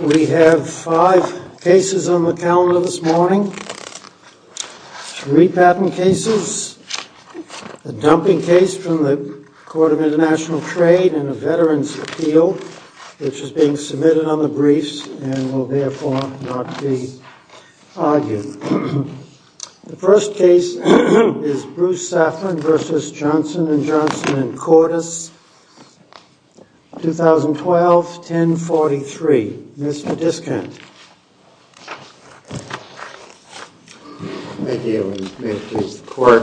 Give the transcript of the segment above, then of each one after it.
We have five cases on the calendar this morning, three patent cases, a dumping case from the Court of International Trade and a Veterans' Appeal which is being submitted on the briefs and will therefore not be argued. The first case is Bruce Saffran v. Johnson & Johnson and Cordes, 2012, 1043. Mr. Diskind. Thank you, and may it please the Court.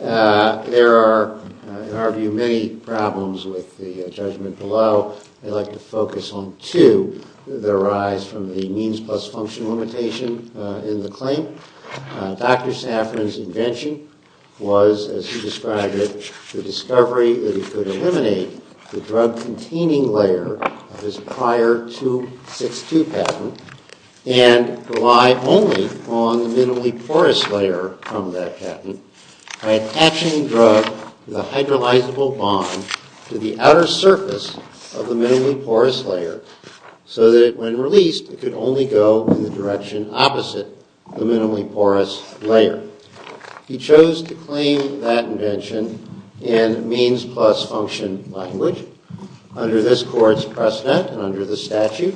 There are, in our view, many problems with the judgment below. I'd like to focus on two that arise from the means plus function limitation in the claim. Dr. Saffran's invention was, as he described it, the discovery that he could eliminate the drug-containing layer of his prior 262 patent and rely only on the minimally porous layer from that patent by attaching drug with a hydrolyzable bond to the outer surface of the minimally porous layer so that when released, it could only go in the direction opposite the minimally porous layer. He chose to claim that invention in means plus function language. Under this Court's precedent and under the statute,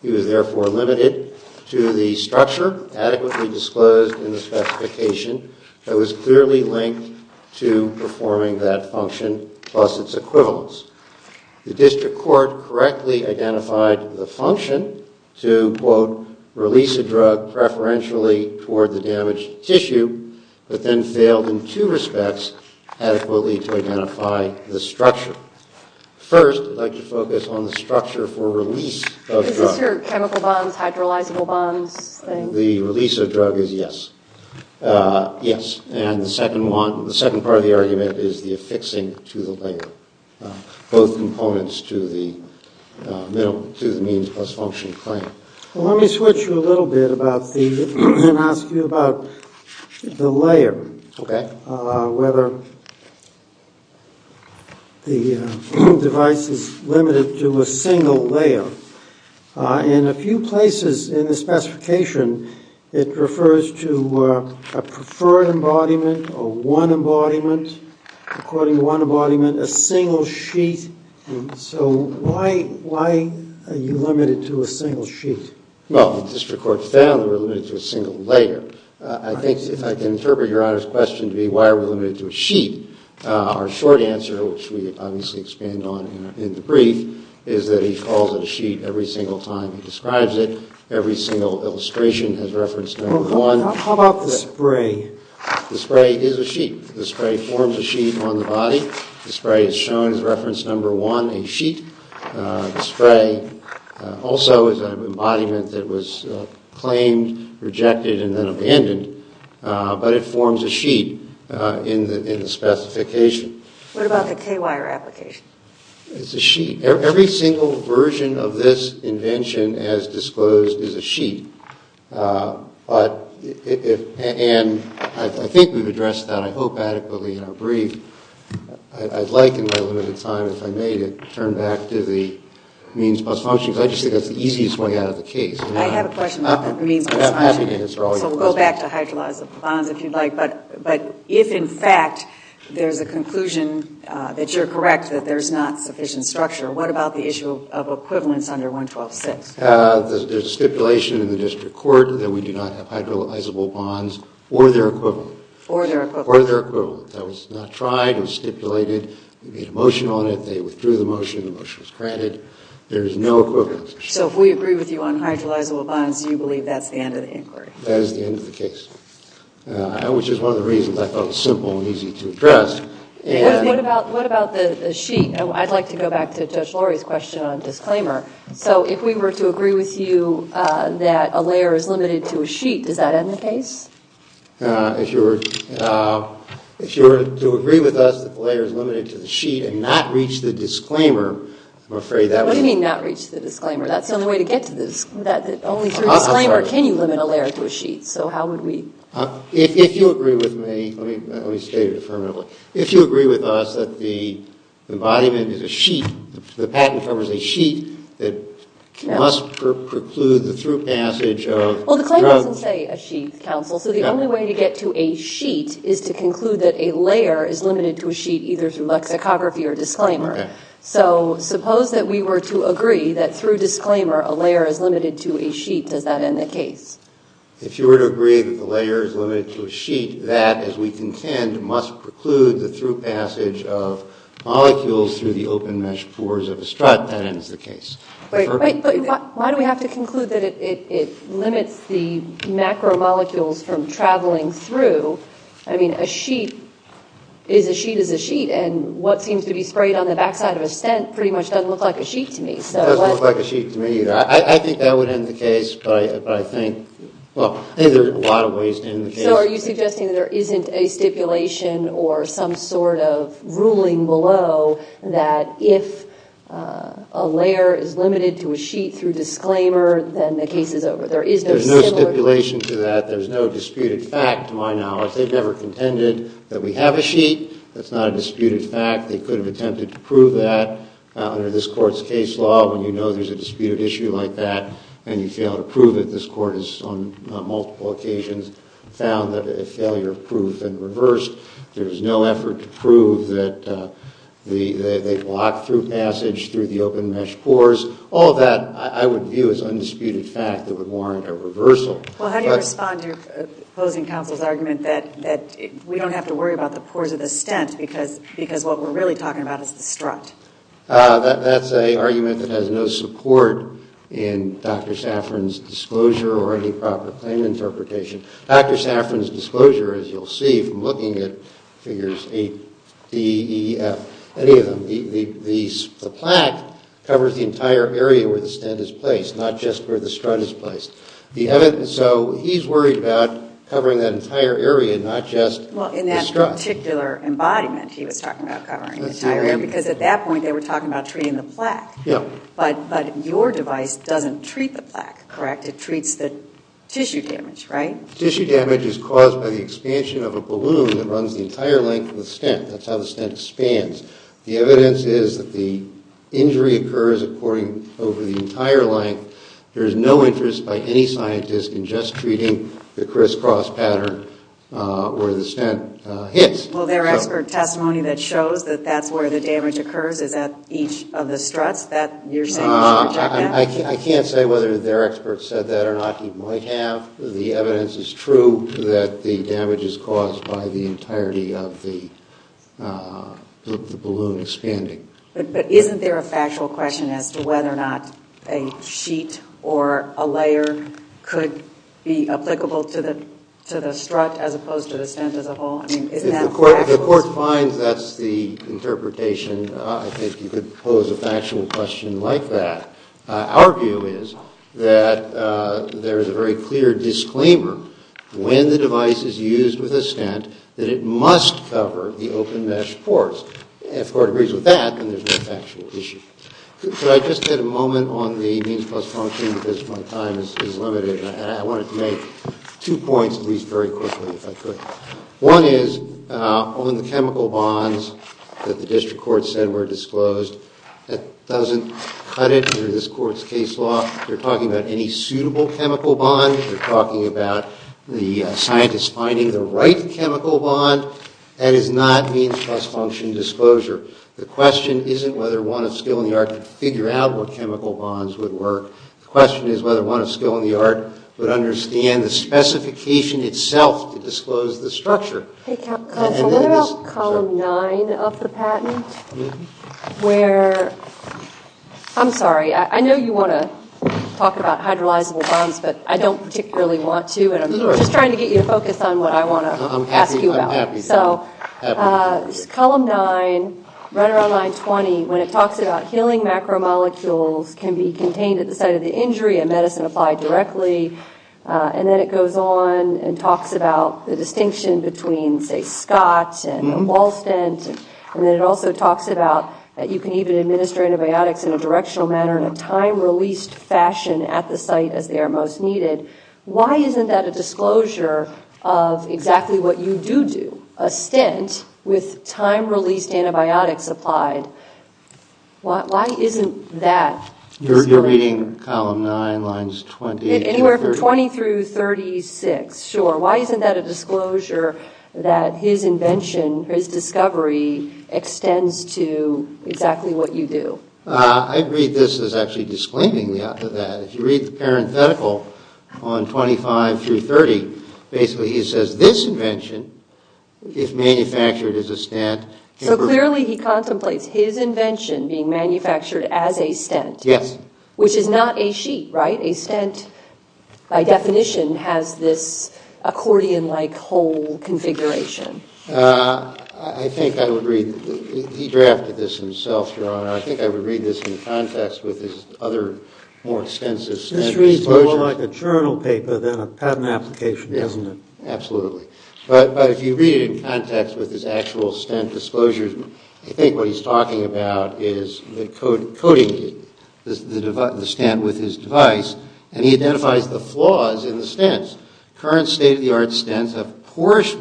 he was therefore limited to the structure adequately disclosed in the specification that was clearly linked to performing that function plus its equivalence. The District Court correctly identified the function to, quote, release a drug preferentially toward the damaged tissue but then failed in two respects adequately to identify the structure. First, I'd like to focus on the structure for release of the drug. Is this your chemical bonds, hydrolyzable bonds thing? The release of the drug is yes. Yes. And the second part of the argument is the affixing to the layer, both components to the means plus function claim. Let me switch you a little bit and ask you about the layer, whether the device is limited to a single layer. In a few places in the specification, it refers to a preferred embodiment or one embodiment, according to one embodiment, a single sheet. So why are you limited to a single sheet? Well, the District Court found that we're limited to a single layer. I think if I can interpret Your Honor's question to be why are we limited to a sheet, our short answer, which we obviously expand on in the brief, is that he calls it a sheet every single time he describes it. Every single illustration has referenced number one. How about the spray? The spray is a sheet. The spray forms a sheet on the body. The spray is shown as reference number one, a sheet. The spray also is an embodiment that was claimed, rejected and then abandoned. But it forms a sheet in the specification. What about the K wire application? It's a sheet. Every single version of this invention as disclosed is a sheet. And I think we've addressed that, I hope, adequately in our brief. I'd like in my limited time, if I may, to turn back to the means plus function, because I just think that's the easiest way out of the case. I have a question about the means plus function. I'm happy to answer all your questions. We'll go back to hydrolyzable bonds if you'd like, but if in fact there's a conclusion that you're correct that there's not sufficient structure, what about the issue of equivalence under 112.6? There's a stipulation in the district court that we do not have hydrolyzable bonds or their equivalent. Or their equivalent. Or their equivalent. That was not tried. It was stipulated. They made a motion on it. They withdrew the motion. The motion was granted. There is no equivalence. So if we agree with you on hydrolyzable bonds, you believe that's the end of the inquiry? That is the end of the case. Which is one of the reasons I thought it was simple and easy to address. What about the sheet? I'd like to go back to Judge Lori's question on disclaimer. So if we were to agree with you that a layer is limited to a sheet, does that end the case? If you were to agree with us that the layer is limited to the sheet and not reach the disclaimer, I'm afraid that would be... What do you mean not reach the disclaimer? That's the only way to get to this. Only through disclaimer can you limit a layer to a sheet. So how would we... If you agree with me, let me state it affirmatively. If you agree with us that the embodiment is a sheet, the patent covers a sheet that must preclude the through passage of drugs... Well, the claim doesn't say a sheet, counsel. So the only way to get to a sheet is to conclude that a layer is limited to a sheet either through lexicography or disclaimer. So suppose that we were to agree that through disclaimer a layer is limited to a sheet, does that end the case? If you were to agree that the layer is limited to a sheet, that, as we contend, must preclude the through passage of molecules through the open mesh pores of a strut, that ends the case. But why do we have to conclude that it limits the macromolecules from traveling through? I mean, a sheet is a sheet is a sheet, and what seems to be sprayed on the backside of a stent pretty much doesn't look like a sheet to me. It doesn't look like a sheet to me either. I think that would end the case, but I think there are a lot of ways to end the case. So are you suggesting that there isn't a stipulation or some sort of ruling below that if a layer is limited to a sheet through disclaimer, then the case is over? There's no stipulation to that. There's no disputed fact to my knowledge. They've never contended that we have a sheet. That's not a disputed fact. They could have attempted to prove that under this Court's case law when you know there's a disputed issue like that and you fail to prove it. This Court has on multiple occasions found that a failure of proof and reversed. There's no effort to prove that they block through passage through the open mesh pores. All of that I would view as undisputed fact that would warrant a reversal. Well, how do you respond to opposing counsel's argument that we don't have to worry about the pores of the stent because what we're really talking about is the strut? That's an argument that has no support in Dr. Safran's disclosure or any proper claim interpretation. Dr. Safran's disclosure, as you'll see from looking at figures 8D, E, F, any of them, the plaque covers the entire area where the stent is placed, not just where the strut is placed. So he's worried about covering that entire area, not just the strut. Well, in that particular embodiment he was talking about covering the entire area because at that point they were talking about treating the plaque. But your device doesn't treat the plaque, correct? It treats the tissue damage, right? Tissue damage is caused by the expansion of a balloon that runs the entire length of the stent. That's how the stent expands. The evidence is that the injury occurs over the entire length. There is no interest by any scientist in just treating the crisscross pattern where the stent hits. Well, their expert testimony that shows that that's where the damage occurs is at each of the struts? I can't say whether their expert said that or not. He might have. The evidence is true that the damage is caused by the entirety of the balloon expanding. But isn't there a factual question as to whether or not a sheet or a layer could be applicable to the strut as opposed to the stent as a whole? If the Court finds that's the interpretation, I think you could pose a factual question like that. Our view is that there is a very clear disclaimer when the device is used with a stent that it must cover the open mesh ports. If the Court agrees with that, then there's no factual issue. Could I just get a moment on the means plus function because my time is limited? I wanted to make two points, at least very quickly, if I could. One is on the chemical bonds that the District Court said were disclosed, that doesn't cut it under this Court's case law. You're talking about any suitable chemical bond. You're talking about the scientists finding the right chemical bond. That is not means plus function disclosure. The question isn't whether one of skill in the art could figure out what chemical bonds would work. The question is whether one of skill in the art would understand the specification itself to disclose the structure. Hey, counsel, what about column nine of the patent where – I'm sorry. I know you want to talk about hydrolyzable bonds, but I don't particularly want to, and I'm just trying to get you to focus on what I want to ask you about. I'm happy. So column nine, right around line 20, when it talks about healing macromolecules can be contained at the site of the injury and medicine applied directly, and then it goes on and talks about the distinction between, say, Scott and Walstent, and then it also talks about that you can even administer antibiotics in a directional manner in a time-released fashion at the site as they are most needed. Why isn't that a disclosure of exactly what you do do, a stint with time-released antibiotics applied? Why isn't that – You're reading column nine, lines 20 – Anywhere from 20 through 36, sure. Why isn't that a disclosure that his invention, his discovery extends to exactly what you do? I read this as actually disclaiming that. If you read the parenthetical on 25 through 30, basically he says this invention, if manufactured as a stent – So clearly he contemplates his invention being manufactured as a stent. Yes. Which is not a sheet, right? A stent by definition has this accordion-like whole configuration. I think I would read – he drafted this himself, Your Honor. I think I would read this in context with his other more extensive stent disclosures. History is more like a journal paper than a patent application, isn't it? Absolutely. But if you read it in context with his actual stent disclosures, I think what he's talking about is coding the stent with his device, and he identifies the flaws in the stents. Current state-of-the-art stents have porous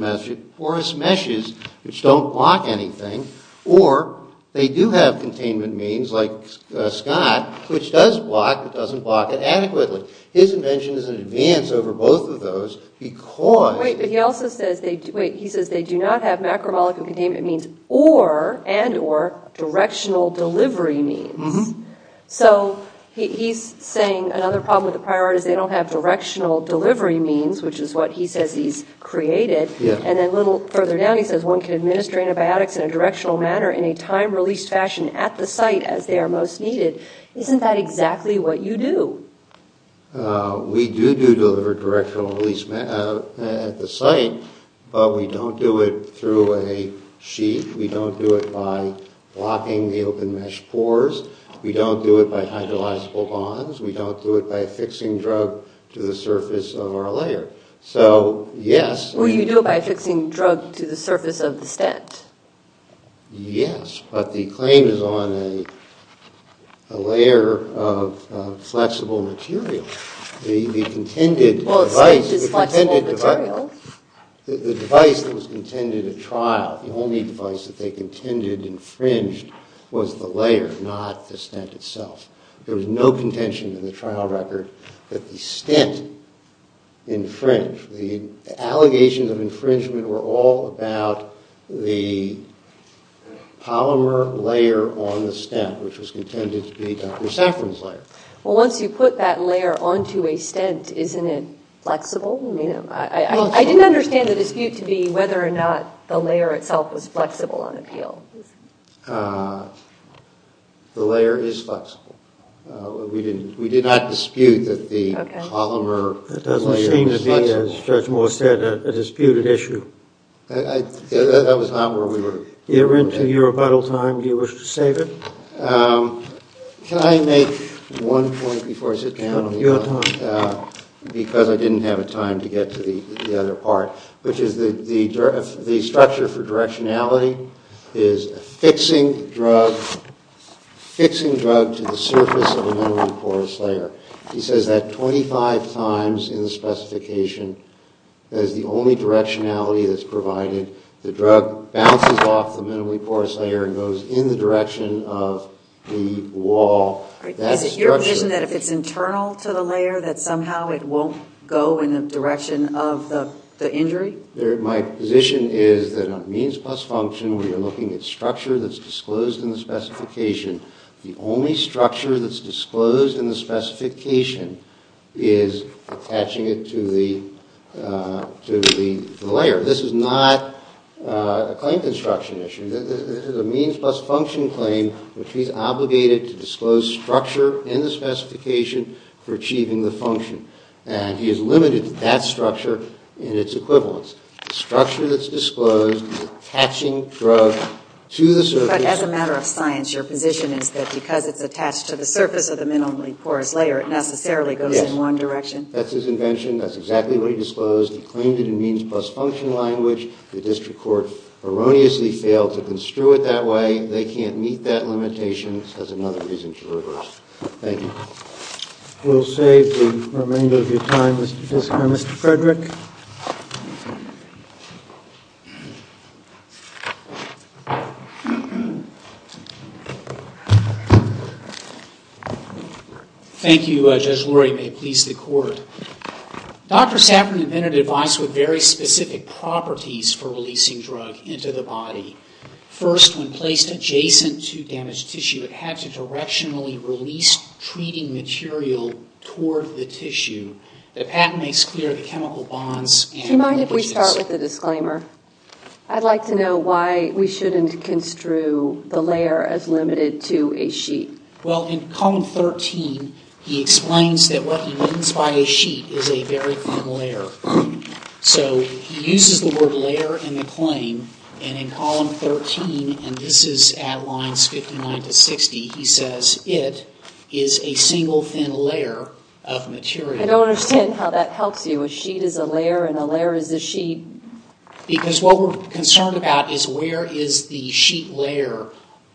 meshes which don't block anything, or they do have containment means like SCOT, which does block but doesn't block it adequately. His invention is an advance over both of those because – Wait, but he also says they do not have macromolecule containment means and or directional delivery means. So he's saying another problem with the prior art is they don't have directional delivery means, which is what he says he's created. And then a little further down, he says, one can administer antibiotics in a directional manner in a time-released fashion at the site as they are most needed. Isn't that exactly what you do? We do do deliver directional release at the site, but we don't do it through a sheet. We don't do it by blocking the open mesh pores. We don't do it by hydrolyzable bonds. We don't do it by affixing drug to the surface of our layer. So, yes – Well, you do it by affixing drug to the surface of the stent. Yes, but the claim is on a layer of flexible material. The contended device – Well, the stent is flexible material. The device that was contended at trial – the only device that they contended infringed was the layer, not the stent itself. There was no contention in the trial record that the stent infringed. The allegations of infringement were all about the polymer layer on the stent, which was contended to be Dr. Safran's layer. Well, once you put that layer onto a stent, isn't it flexible? I didn't understand the dispute to be whether or not the layer itself was flexible on appeal. The layer is flexible. We did not dispute that the polymer layer was flexible. That doesn't seem to be, as Judge Moore said, a disputed issue. That was not where we were. You're into your rebuttal time. Do you wish to save it? Can I make one point before I sit down? Your time. Because I didn't have time to get to the other part, which is the structure for directionality is a fixing drug to the surface of a minimally porous layer. He says that 25 times in the specification. That is the only directionality that's provided. The drug bounces off the minimally porous layer and goes in the direction of the wall. Is it your position that if it's internal to the layer, that somehow it won't go in the direction of the injury? My position is that a means plus function, where you're looking at structure that's disclosed in the specification, the only structure that's disclosed in the specification is attaching it to the layer. This is not a claim construction issue. This is a means plus function claim, which he's obligated to disclose structure in the specification for achieving the function. And he has limited that structure in its equivalence. The structure that's disclosed is attaching drug to the surface. But as a matter of science, your position is that because it's attached to the surface of the minimally porous layer, it necessarily goes in one direction. That's his invention. That's exactly what he disclosed. He claimed it in means plus function language. The district court erroneously failed to construe it that way. They can't meet that limitation. This has another reason to reverse. Thank you. We'll save the remainder of your time, Mr. Fisker. Mr. Frederick? May it please the Court. Dr. Saffron invented a device with very specific properties for releasing drug into the body. First, when placed adjacent to damaged tissue, it had to directionally release treating material toward the tissue. The patent makes clear the chemical bonds. Do you mind if we start with a disclaimer? I'd like to know why we shouldn't construe the layer as limited to a sheet. Well, in column 13, he explains that what he means by a sheet is a very thin layer. So he uses the word layer in the claim. And in column 13, and this is at lines 59 to 60, he says it is a single thin layer of material. I don't understand how that helps you. A sheet is a layer and a layer is a sheet. Because what we're concerned about is where is the sheet layer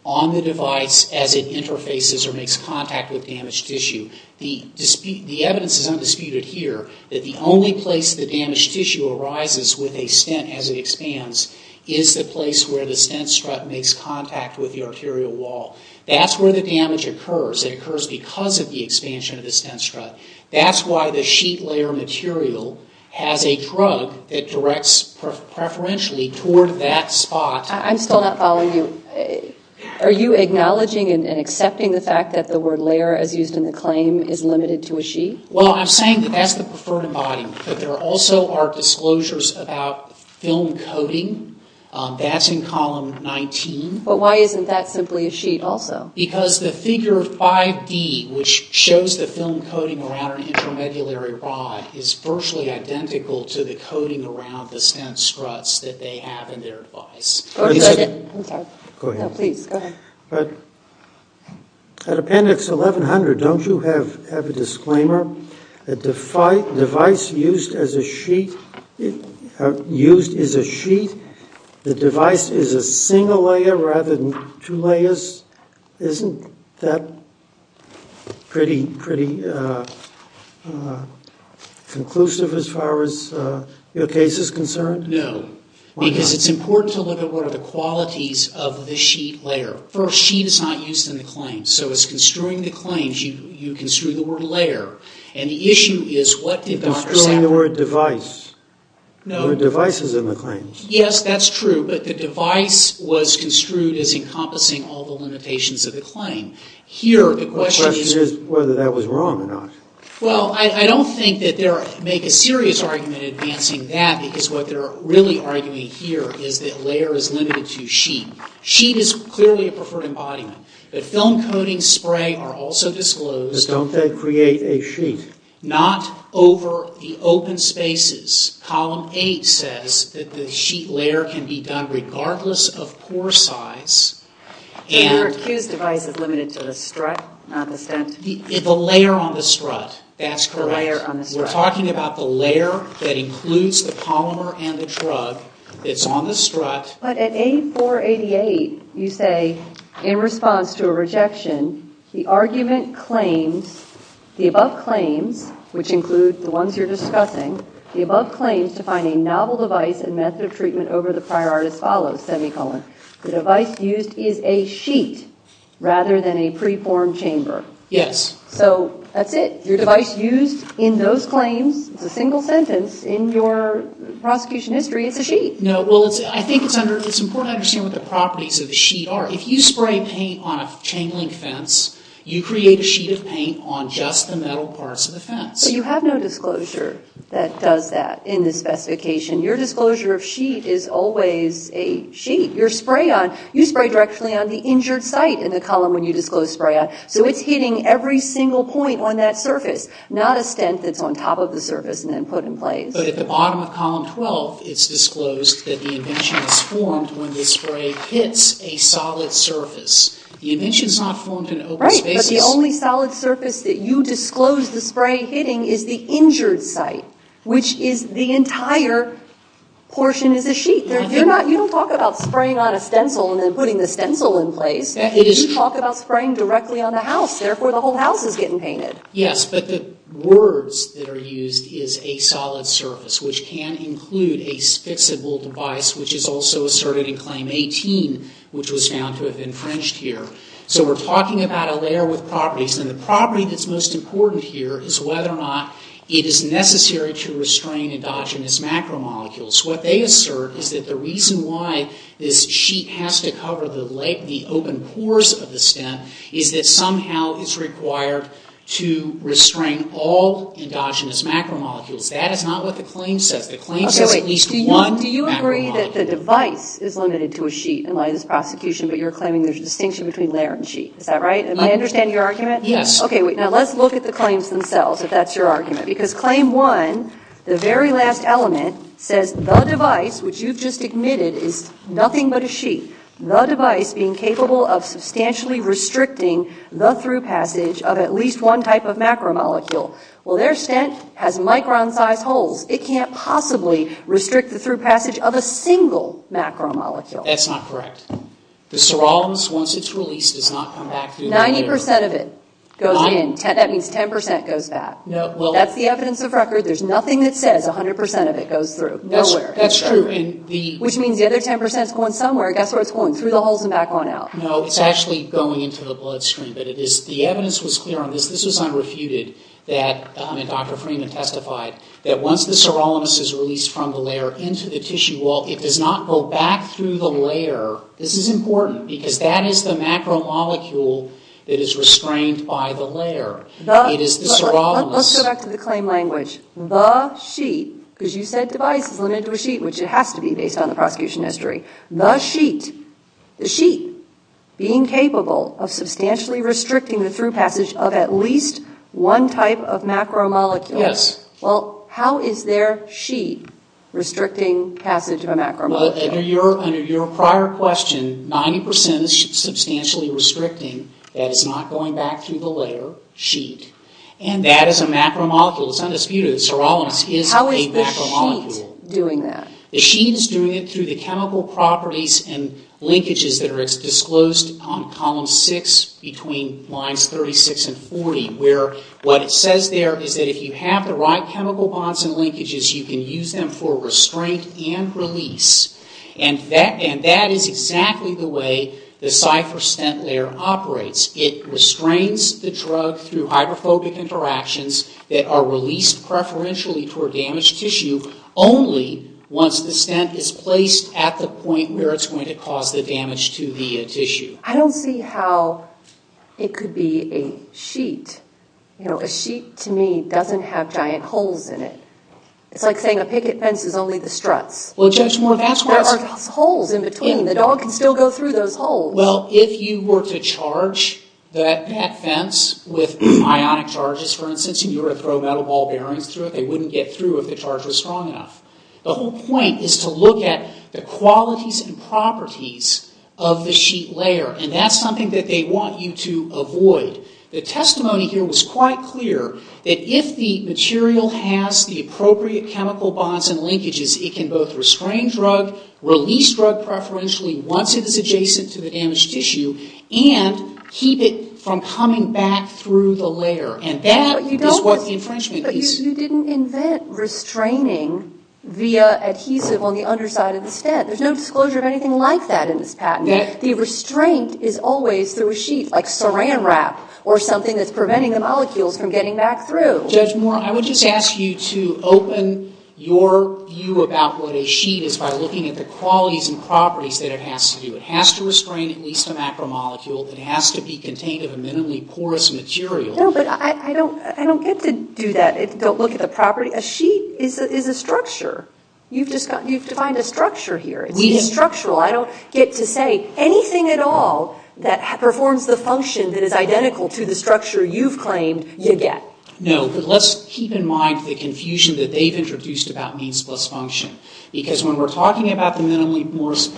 on the device as it interfaces or makes contact with damaged tissue. The evidence is undisputed here that the only place the damaged tissue arises with a stent as it expands is the place where the stent strut makes contact with the arterial wall. That's where the damage occurs. It occurs because of the expansion of the stent strut. That's why the sheet layer material has a drug that directs preferentially toward that spot. I'm still not following you. Are you acknowledging and accepting the fact that the word layer as used in the claim is limited to a sheet? Well, I'm saying that that's the preferred embodiment. But there also are disclosures about film coating. That's in column 19. But why isn't that simply a sheet also? Because the figure of 5D, which shows the film coating around an intramedullary rod, is virtually identical to the coating around the stent struts that they have in their device. At appendix 1100, don't you have a disclaimer? The device used is a sheet. The device is a single layer rather than two layers. Isn't that pretty conclusive as far as your case is concerned? No. Why not? Because it's important to look at what are the qualities of the sheet layer. First, sheet is not used in the claims. So it's construing the claims, you construe the word layer. And the issue is what did Dr. Sapper... You're construing the word device. No. The device is in the claims. Yes, that's true. But the device was construed as encompassing all the limitations of the claim. Here, the question is... The question is whether that was wrong or not. Well, I don't think that they make a serious argument advancing that because what they're really arguing here is that layer is limited to sheet. Sheet is clearly a preferred embodiment. But film coating, spray are also disclosed. But don't they create a sheet? Not over the open spaces. Column 8 says that the sheet layer can be done regardless of pore size. But your accused device is limited to the strut, not the stent. The layer on the strut. That's correct. The layer on the strut. We're talking about the layer that includes the polymer and the drug. It's on the strut. But at 8488, you say, in response to a rejection, the argument claims the above claims, which include the ones you're discussing, the above claims to find a novel device and method of treatment over the prior art as follows, semicolon. The device used is a sheet rather than a preformed chamber. Yes. So that's it. Your device used in those claims is a single sentence. In your prosecution history, it's a sheet. No, well, I think it's important to understand what the properties of the sheet are. If you spray paint on a chain link fence, you create a sheet of paint on just the metal parts of the fence. But you have no disclosure that does that in this specification. Your disclosure of sheet is always a sheet. Your spray on, you spray directly on the injured site in the column when you disclose spray on. So it's hitting every single point on that surface, not a stent that's on top of the surface and then put in place. But at the bottom of column 12, it's disclosed that the invention is formed when the spray hits a solid surface. The invention is not formed in open space. Right, but the only solid surface that you disclose the spray hitting is the injured site, which is the entire portion is a sheet. You don't talk about spraying on a stencil and then putting the stencil in place. You talk about spraying directly on the house. Therefore, the whole house is getting painted. Yes, but the words that are used is a solid surface, which can include a fixable device, which is also asserted in Claim 18, which was found to have infringed here. So we're talking about a layer with properties, and the property that's most important here is whether or not it is necessary to restrain endogenous macromolecules. What they assert is that the reason why this sheet has to cover the open pores of the stent is that somehow it's required to restrain all endogenous macromolecules. That is not what the claim says. The claim says at least one macromolecule. Okay, wait. Do you agree that the device is limited to a sheet in light of this prosecution, but you're claiming there's a distinction between layer and sheet? Is that right? Am I understanding your argument? Yes. Okay, wait. Now, let's look at the claims themselves, if that's your argument. Because Claim 1, the very last element, says the device, which you've just admitted, is nothing but a sheet, the device being capable of substantially restricting the through passage of at least one type of macromolecule. Well, their stent has micron-sized holes. It can't possibly restrict the through passage of a single macromolecule. That's not correct. The serolins, once it's released, does not come back through. 90% of it goes in. That means 10% goes back. That's the evidence of record. There's nothing that says 100% of it goes through. Nowhere. That's true. Which means the other 10% is going somewhere. Guess where it's going? Through the holes and back on out. No, it's actually going into the bloodstream. But the evidence was clear on this. This was unrefuted. And Dr. Freeman testified that once the serolins is released from the layer into the tissue wall, it does not go back through the layer. This is important, because that is the macromolecule that is restrained by the layer. It is the serolins. Let's go back to the claim language. The sheet, because you said device is limited to a sheet, which it has to be based on the prosecution history. The sheet, the sheet being capable of substantially restricting the through at least one type of macromolecule. Yes. Well, how is their sheet restricting passage of a macromolecule? Under your prior question, 90% is substantially restricting. That is not going back through the layer sheet. And that is a macromolecule. It's undisputed. Serolins is a macromolecule. How is the sheet doing that? The sheet is doing it through the chemical properties and linkages that are disclosed on column six between lines 36 and 40, where what it says there is that if you have the right chemical bonds and linkages, you can use them for restraint and release. And that is exactly the way the cipher stent layer operates. It restrains the drug through hydrophobic interactions that are released preferentially toward damaged tissue only once the stent is placed at the affected tissue. I don't see how it could be a sheet. You know, a sheet to me doesn't have giant holes in it. It's like saying a picket fence is only the struts. Well, Judge Moore, that's what I'm saying. There are holes in between. The dog can still go through those holes. Well, if you were to charge that fence with ionic charges, for instance, and you were to throw metal ball bearings through it, they wouldn't get through if the charge was strong enough. The whole point is to look at the qualities and properties of the sheet layer, and that's something that they want you to avoid. The testimony here was quite clear that if the material has the appropriate chemical bonds and linkages, it can both restrain drug, release drug preferentially once it is adjacent to the damaged tissue, and keep it from coming back through the layer. And that is what the infringement is. But you didn't invent restraining via adhesive on the underside of the stead. There's no disclosure of anything like that in this patent. The restraint is always through a sheet, like saran wrap, or something that's preventing the molecules from getting back through. Judge Moore, I would just ask you to open your view about what a sheet is by looking at the qualities and properties that it has to do. It has to restrain at least a macromolecule. It has to be contained in a minimally porous material. No, but I don't get to do that. Don't look at the properties. A sheet is a structure. You've defined a structure here. It's being structural. I don't get to say anything at all that performs the function that is identical to the structure you've claimed you get. No, but let's keep in mind the confusion that they've introduced about means plus function. Because when we're talking about the minimally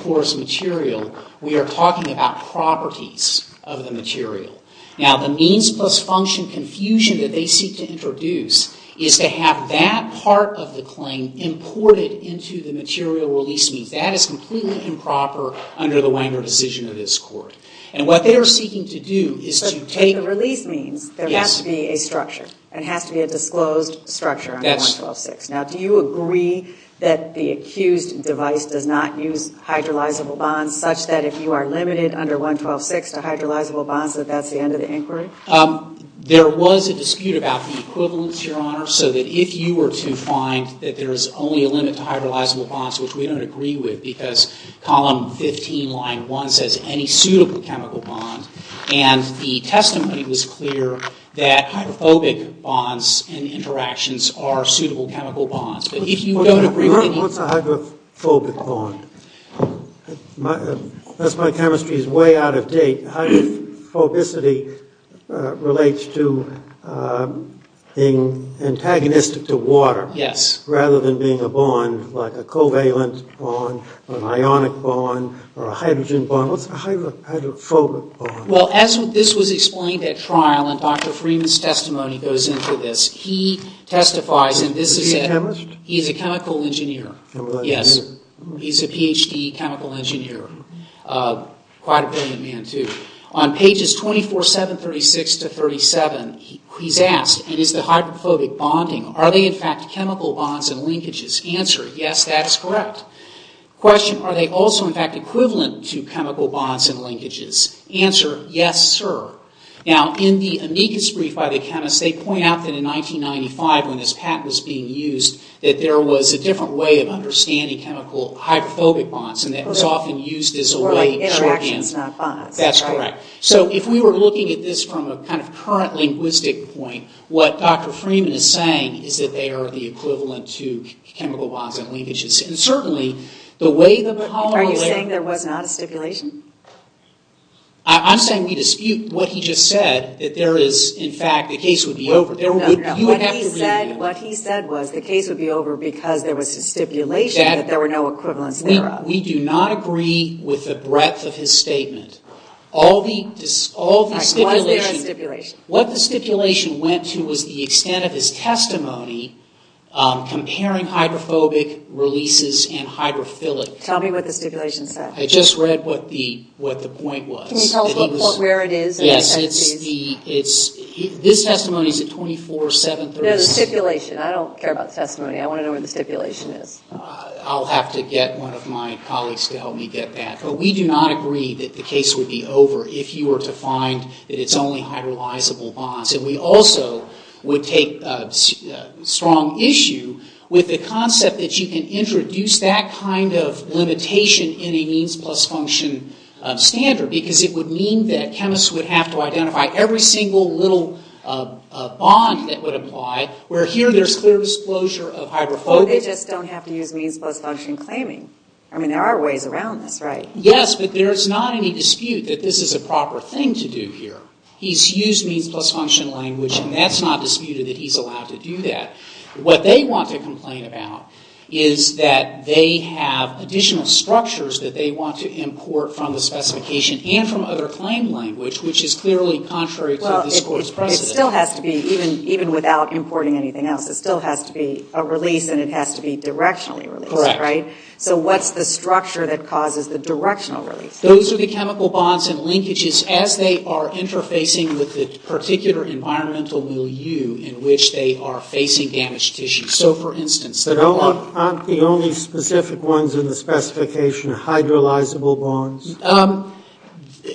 porous material, we are talking about properties of the material. Now, the means plus function confusion that they seek to introduce is to have that part of the claim imported into the material release means. That is completely improper under the Wanger decision of this court. And what they are seeking to do is to take- But the release means there has to be a structure. It has to be a disclosed structure under 112.6. Now, do you agree that the accused device does not use hydrolyzable bonds such that if you are limited under 112.6 to hydrolyzable bonds, that that's the end of the inquiry? There was a dispute about the equivalence, Your Honor, so that if you were to find that there is only a limit to hydrolyzable bonds, which we don't agree with because column 15, line 1, says any suitable chemical bond. And the testimony was clear that hydrophobic bonds and interactions are suitable chemical bonds. But if you don't agree with any- What's a hydrophobic bond? That's my chemistry's way out of date. Hydrophobicity relates to being antagonistic to water. Yes. Rather than being a bond like a covalent bond or an ionic bond or a hydrogen bond. What's a hydrophobic bond? Well, this was explained at trial, and Dr. Freeman's testimony goes into this. He testifies, and this is- Is he a chemist? He's a chemical engineer. Chemical engineer. Yes. He's a Ph.D. chemical engineer. Quite a brilliant man, too. On pages 24, 7, 36 to 37, he's asked, and is the hydrophobic bonding- Are they, in fact, chemical bonds and linkages? Answer, yes, that is correct. Question, are they also, in fact, equivalent to chemical bonds and linkages? Answer, yes, sir. Now, in the amicus brief by the chemist, they point out that in 1995 when this patent was being used, that there was a different way of understanding chemical hydrophobic bonds and that it was often used as a way- More like interactions, not bonds. That's correct. So if we were looking at this from a kind of current linguistic point, what Dr. Freeman is saying is that they are the equivalent to chemical bonds and linkages. And certainly, the way the polymer- Are you saying there was not a stipulation? I'm saying we dispute what he just said, that there is, in fact, the case would be over. No, no, no. What he said was the case would be over because there was a stipulation that there were no equivalents thereof. We do not agree with the breadth of his statement. All the stipulation- All right, why is there a stipulation? What the stipulation went to was the extent of his testimony comparing hydrophobic releases and hydrophilic- Tell me what the stipulation said. I just read what the point was. Can you tell us where it is? Yes, it's the- This testimony is at 2473- No, the stipulation. I don't care about the testimony. I want to know where the stipulation is. I'll have to get one of my colleagues to help me get that. But we do not agree that the case would be over if you were to find that it's only hydrolyzable bonds. And we also would take strong issue with the concept that you can introduce that kind of limitation in a means plus function standard because it would mean that chemists would have to identify every single little bond that would apply, where here there's clear disclosure of hydrophobic- But they just don't have to use means plus function claiming. I mean, there are ways around this, right? Yes, but there's not any dispute that this is a proper thing to do here. He's used means plus function language, and that's not disputed that he's allowed to do that. What they want to complain about is that they have additional structures that they want to import from the specification and from other claim language, which is clearly contrary to this Court's precedent. Well, it still has to be, even without importing anything else, it still has to be a release, and it has to be directionally released, right? Correct. So what's the structure that causes the directional release? Those are the chemical bonds and linkages as they are interfacing with the particular environmental milieu in which they are facing damaged tissue. So, for instance- But aren't the only specific ones in the specification hydrolyzable bonds?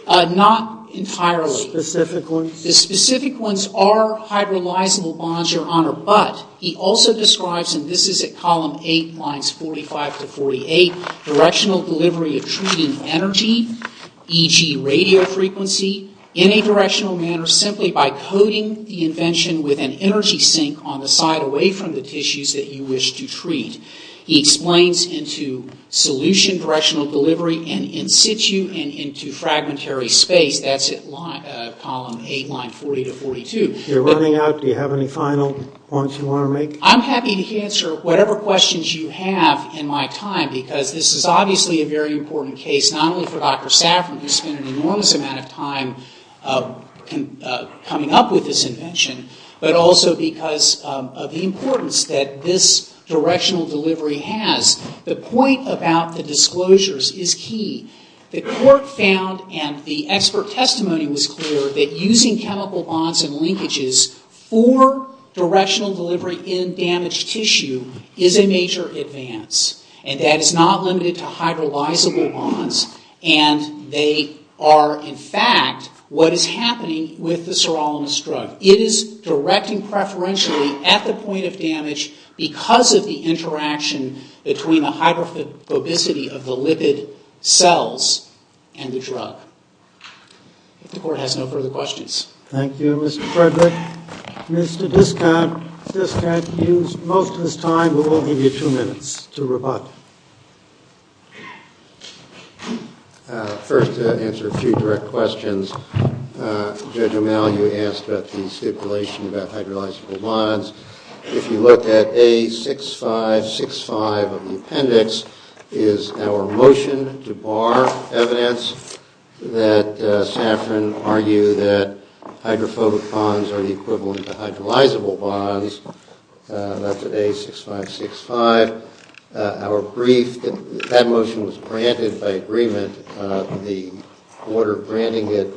Not entirely. Specific ones? The specific ones are hydrolyzable bonds, Your Honor, but he also describes, and this is at column 8, lines 45 to 48, directional delivery of treated energy, e.g. radio frequency, in a directional manner simply by coating the invention with an energy sink on the side away from the tissues that you wish to treat. He explains into solution directional delivery and in situ and into fragmentary space. That's at column 8, line 40 to 42. You're running out. Do you have any final points you want to make? I'm happy to answer whatever questions you have in my time because this is obviously a very important case, not only for Dr. Saffron who spent an enormous amount of time coming up with this invention, but also because of the importance that this directional delivery has. The point about the disclosures is key. The court found, and the expert testimony was clear, that using chemical bonds and linkages for directional delivery in damaged tissue is a major advance and that it's not limited to hydrolyzable bonds and they are, in fact, what is happening with the sirolimus drug. It is directing preferentially at the point of damage because of the interaction between the hydrophobicity of the lipid cells and the drug. If the court has no further questions. Thank you, Mr. Frederick. Mr. Diskant used most of his time, but we'll give you two minutes to rebut. First, to answer a few direct questions, Judge O'Malley, you asked about the stipulation about hydrolyzable bonds. If you look at A6565 of the appendix, is our motion to bar evidence that Saffron argued that hydrophobic bonds are the equivalent to hydrolyzable bonds. That's at A6565. Our brief, that motion was granted by agreement. The order granting it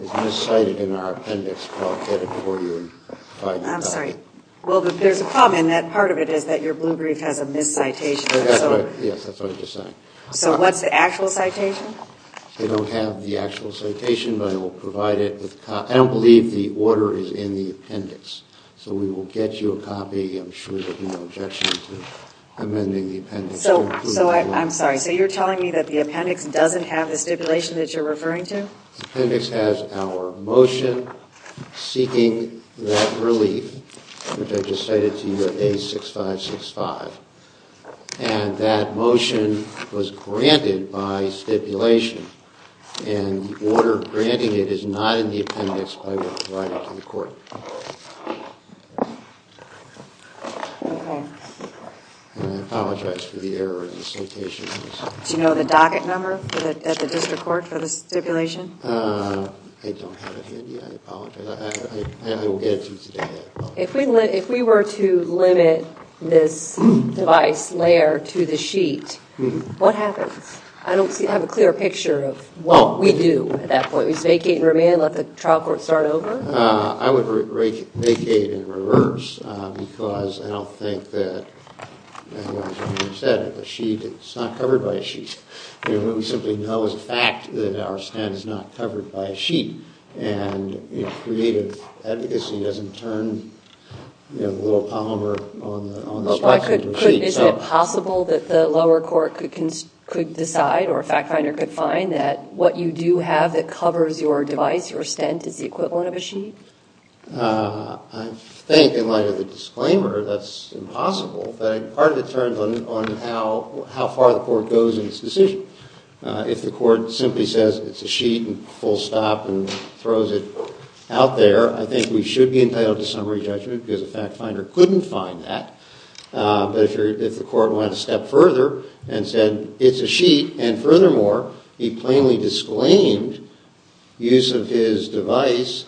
is miscited in our appendix, but I'll get it for you. I'm sorry. Well, there's a problem in that part of it is that your blue brief has a miscitation. Yes, that's what I was just saying. So what's the actual citation? We don't have the actual citation, but I will provide it. I don't believe the order is in the appendix, so we will get you a copy. I'm sure you have no objection to amending the appendix. So I'm sorry. So you're telling me that the appendix doesn't have the stipulation that you're referring to? The appendix has our motion seeking that relief, which I just cited to you at A6565. And that motion was granted by stipulation, and the order granting it is not in the appendix, but I will provide it to the court. OK. And I apologize for the error in the citation. Do you know the docket number at the district court for the stipulation? I don't have it handy. I apologize. I will get it to you today. If we were to limit this device layer to the sheet, what happens? I don't have a clear picture of what we do at that point. We just vacate and remain, let the trial court start over? I would vacate and reverse, because I don't think that, like you said, it's not covered by a sheet. covered by a sheet. And creative advocacy doesn't turn the little polymer on the spreadsheet to a sheet. Isn't it possible that the lower court could decide, or a fact finder could find, that what you do have that covers your device, your stent, is the equivalent of a sheet? I think, in light of the disclaimer, that's impossible. But part of it turns on how far the court goes in its decision. If the court simply says it's a sheet and full stop and throws it out there, I think we should be entitled to summary judgment, because a fact finder couldn't find that. But if the court went a step further and said it's a sheet, and furthermore, a plainly disclaimed use of his device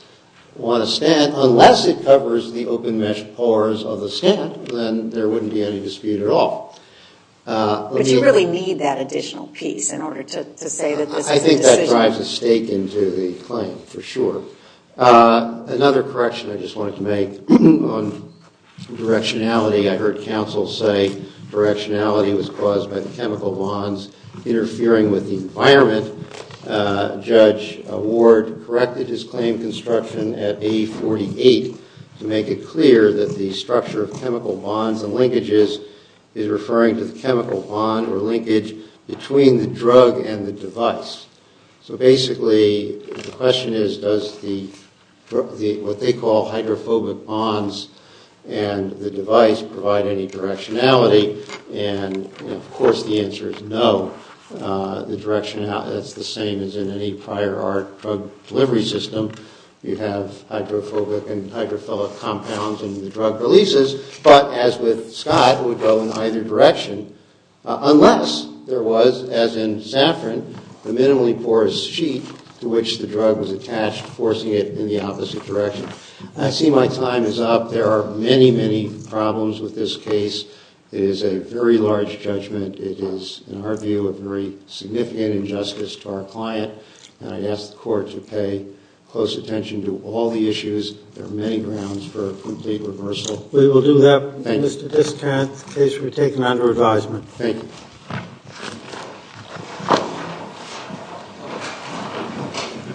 on a stent, unless it covers the open mesh pores of the stent, then there wouldn't be any dispute at all. But you really need that additional piece in order to say that this is a decision. That drives a stake into the claim, for sure. Another correction I just wanted to make on directionality. I heard counsel say directionality was caused by the chemical bonds interfering with the environment. Judge Ward corrected his claim construction at A48 to make it clear that the structure of chemical bonds and linkages is referring to the chemical bond or linkage between the drug and the device. So basically, the question is, does what they call hydrophobic bonds and the device provide any directionality? And of course, the answer is no. That's the same as in any prior art drug delivery system. You have hydrophobic and hydrophilic compounds in the drug releases. But as with Scott, it would go in either direction. Unless there was, as in saffron, a minimally porous sheet to which the drug was attached, forcing it in the opposite direction. I see my time is up. There are many, many problems with this case. It is a very large judgment. It is, in our view, a very significant injustice to our client. And I'd ask the court to pay close attention to all the issues. There are many grounds for a complete reversal. We will do that. Thank you. Mr. Discant, the case will be taken under advisement. Thank you.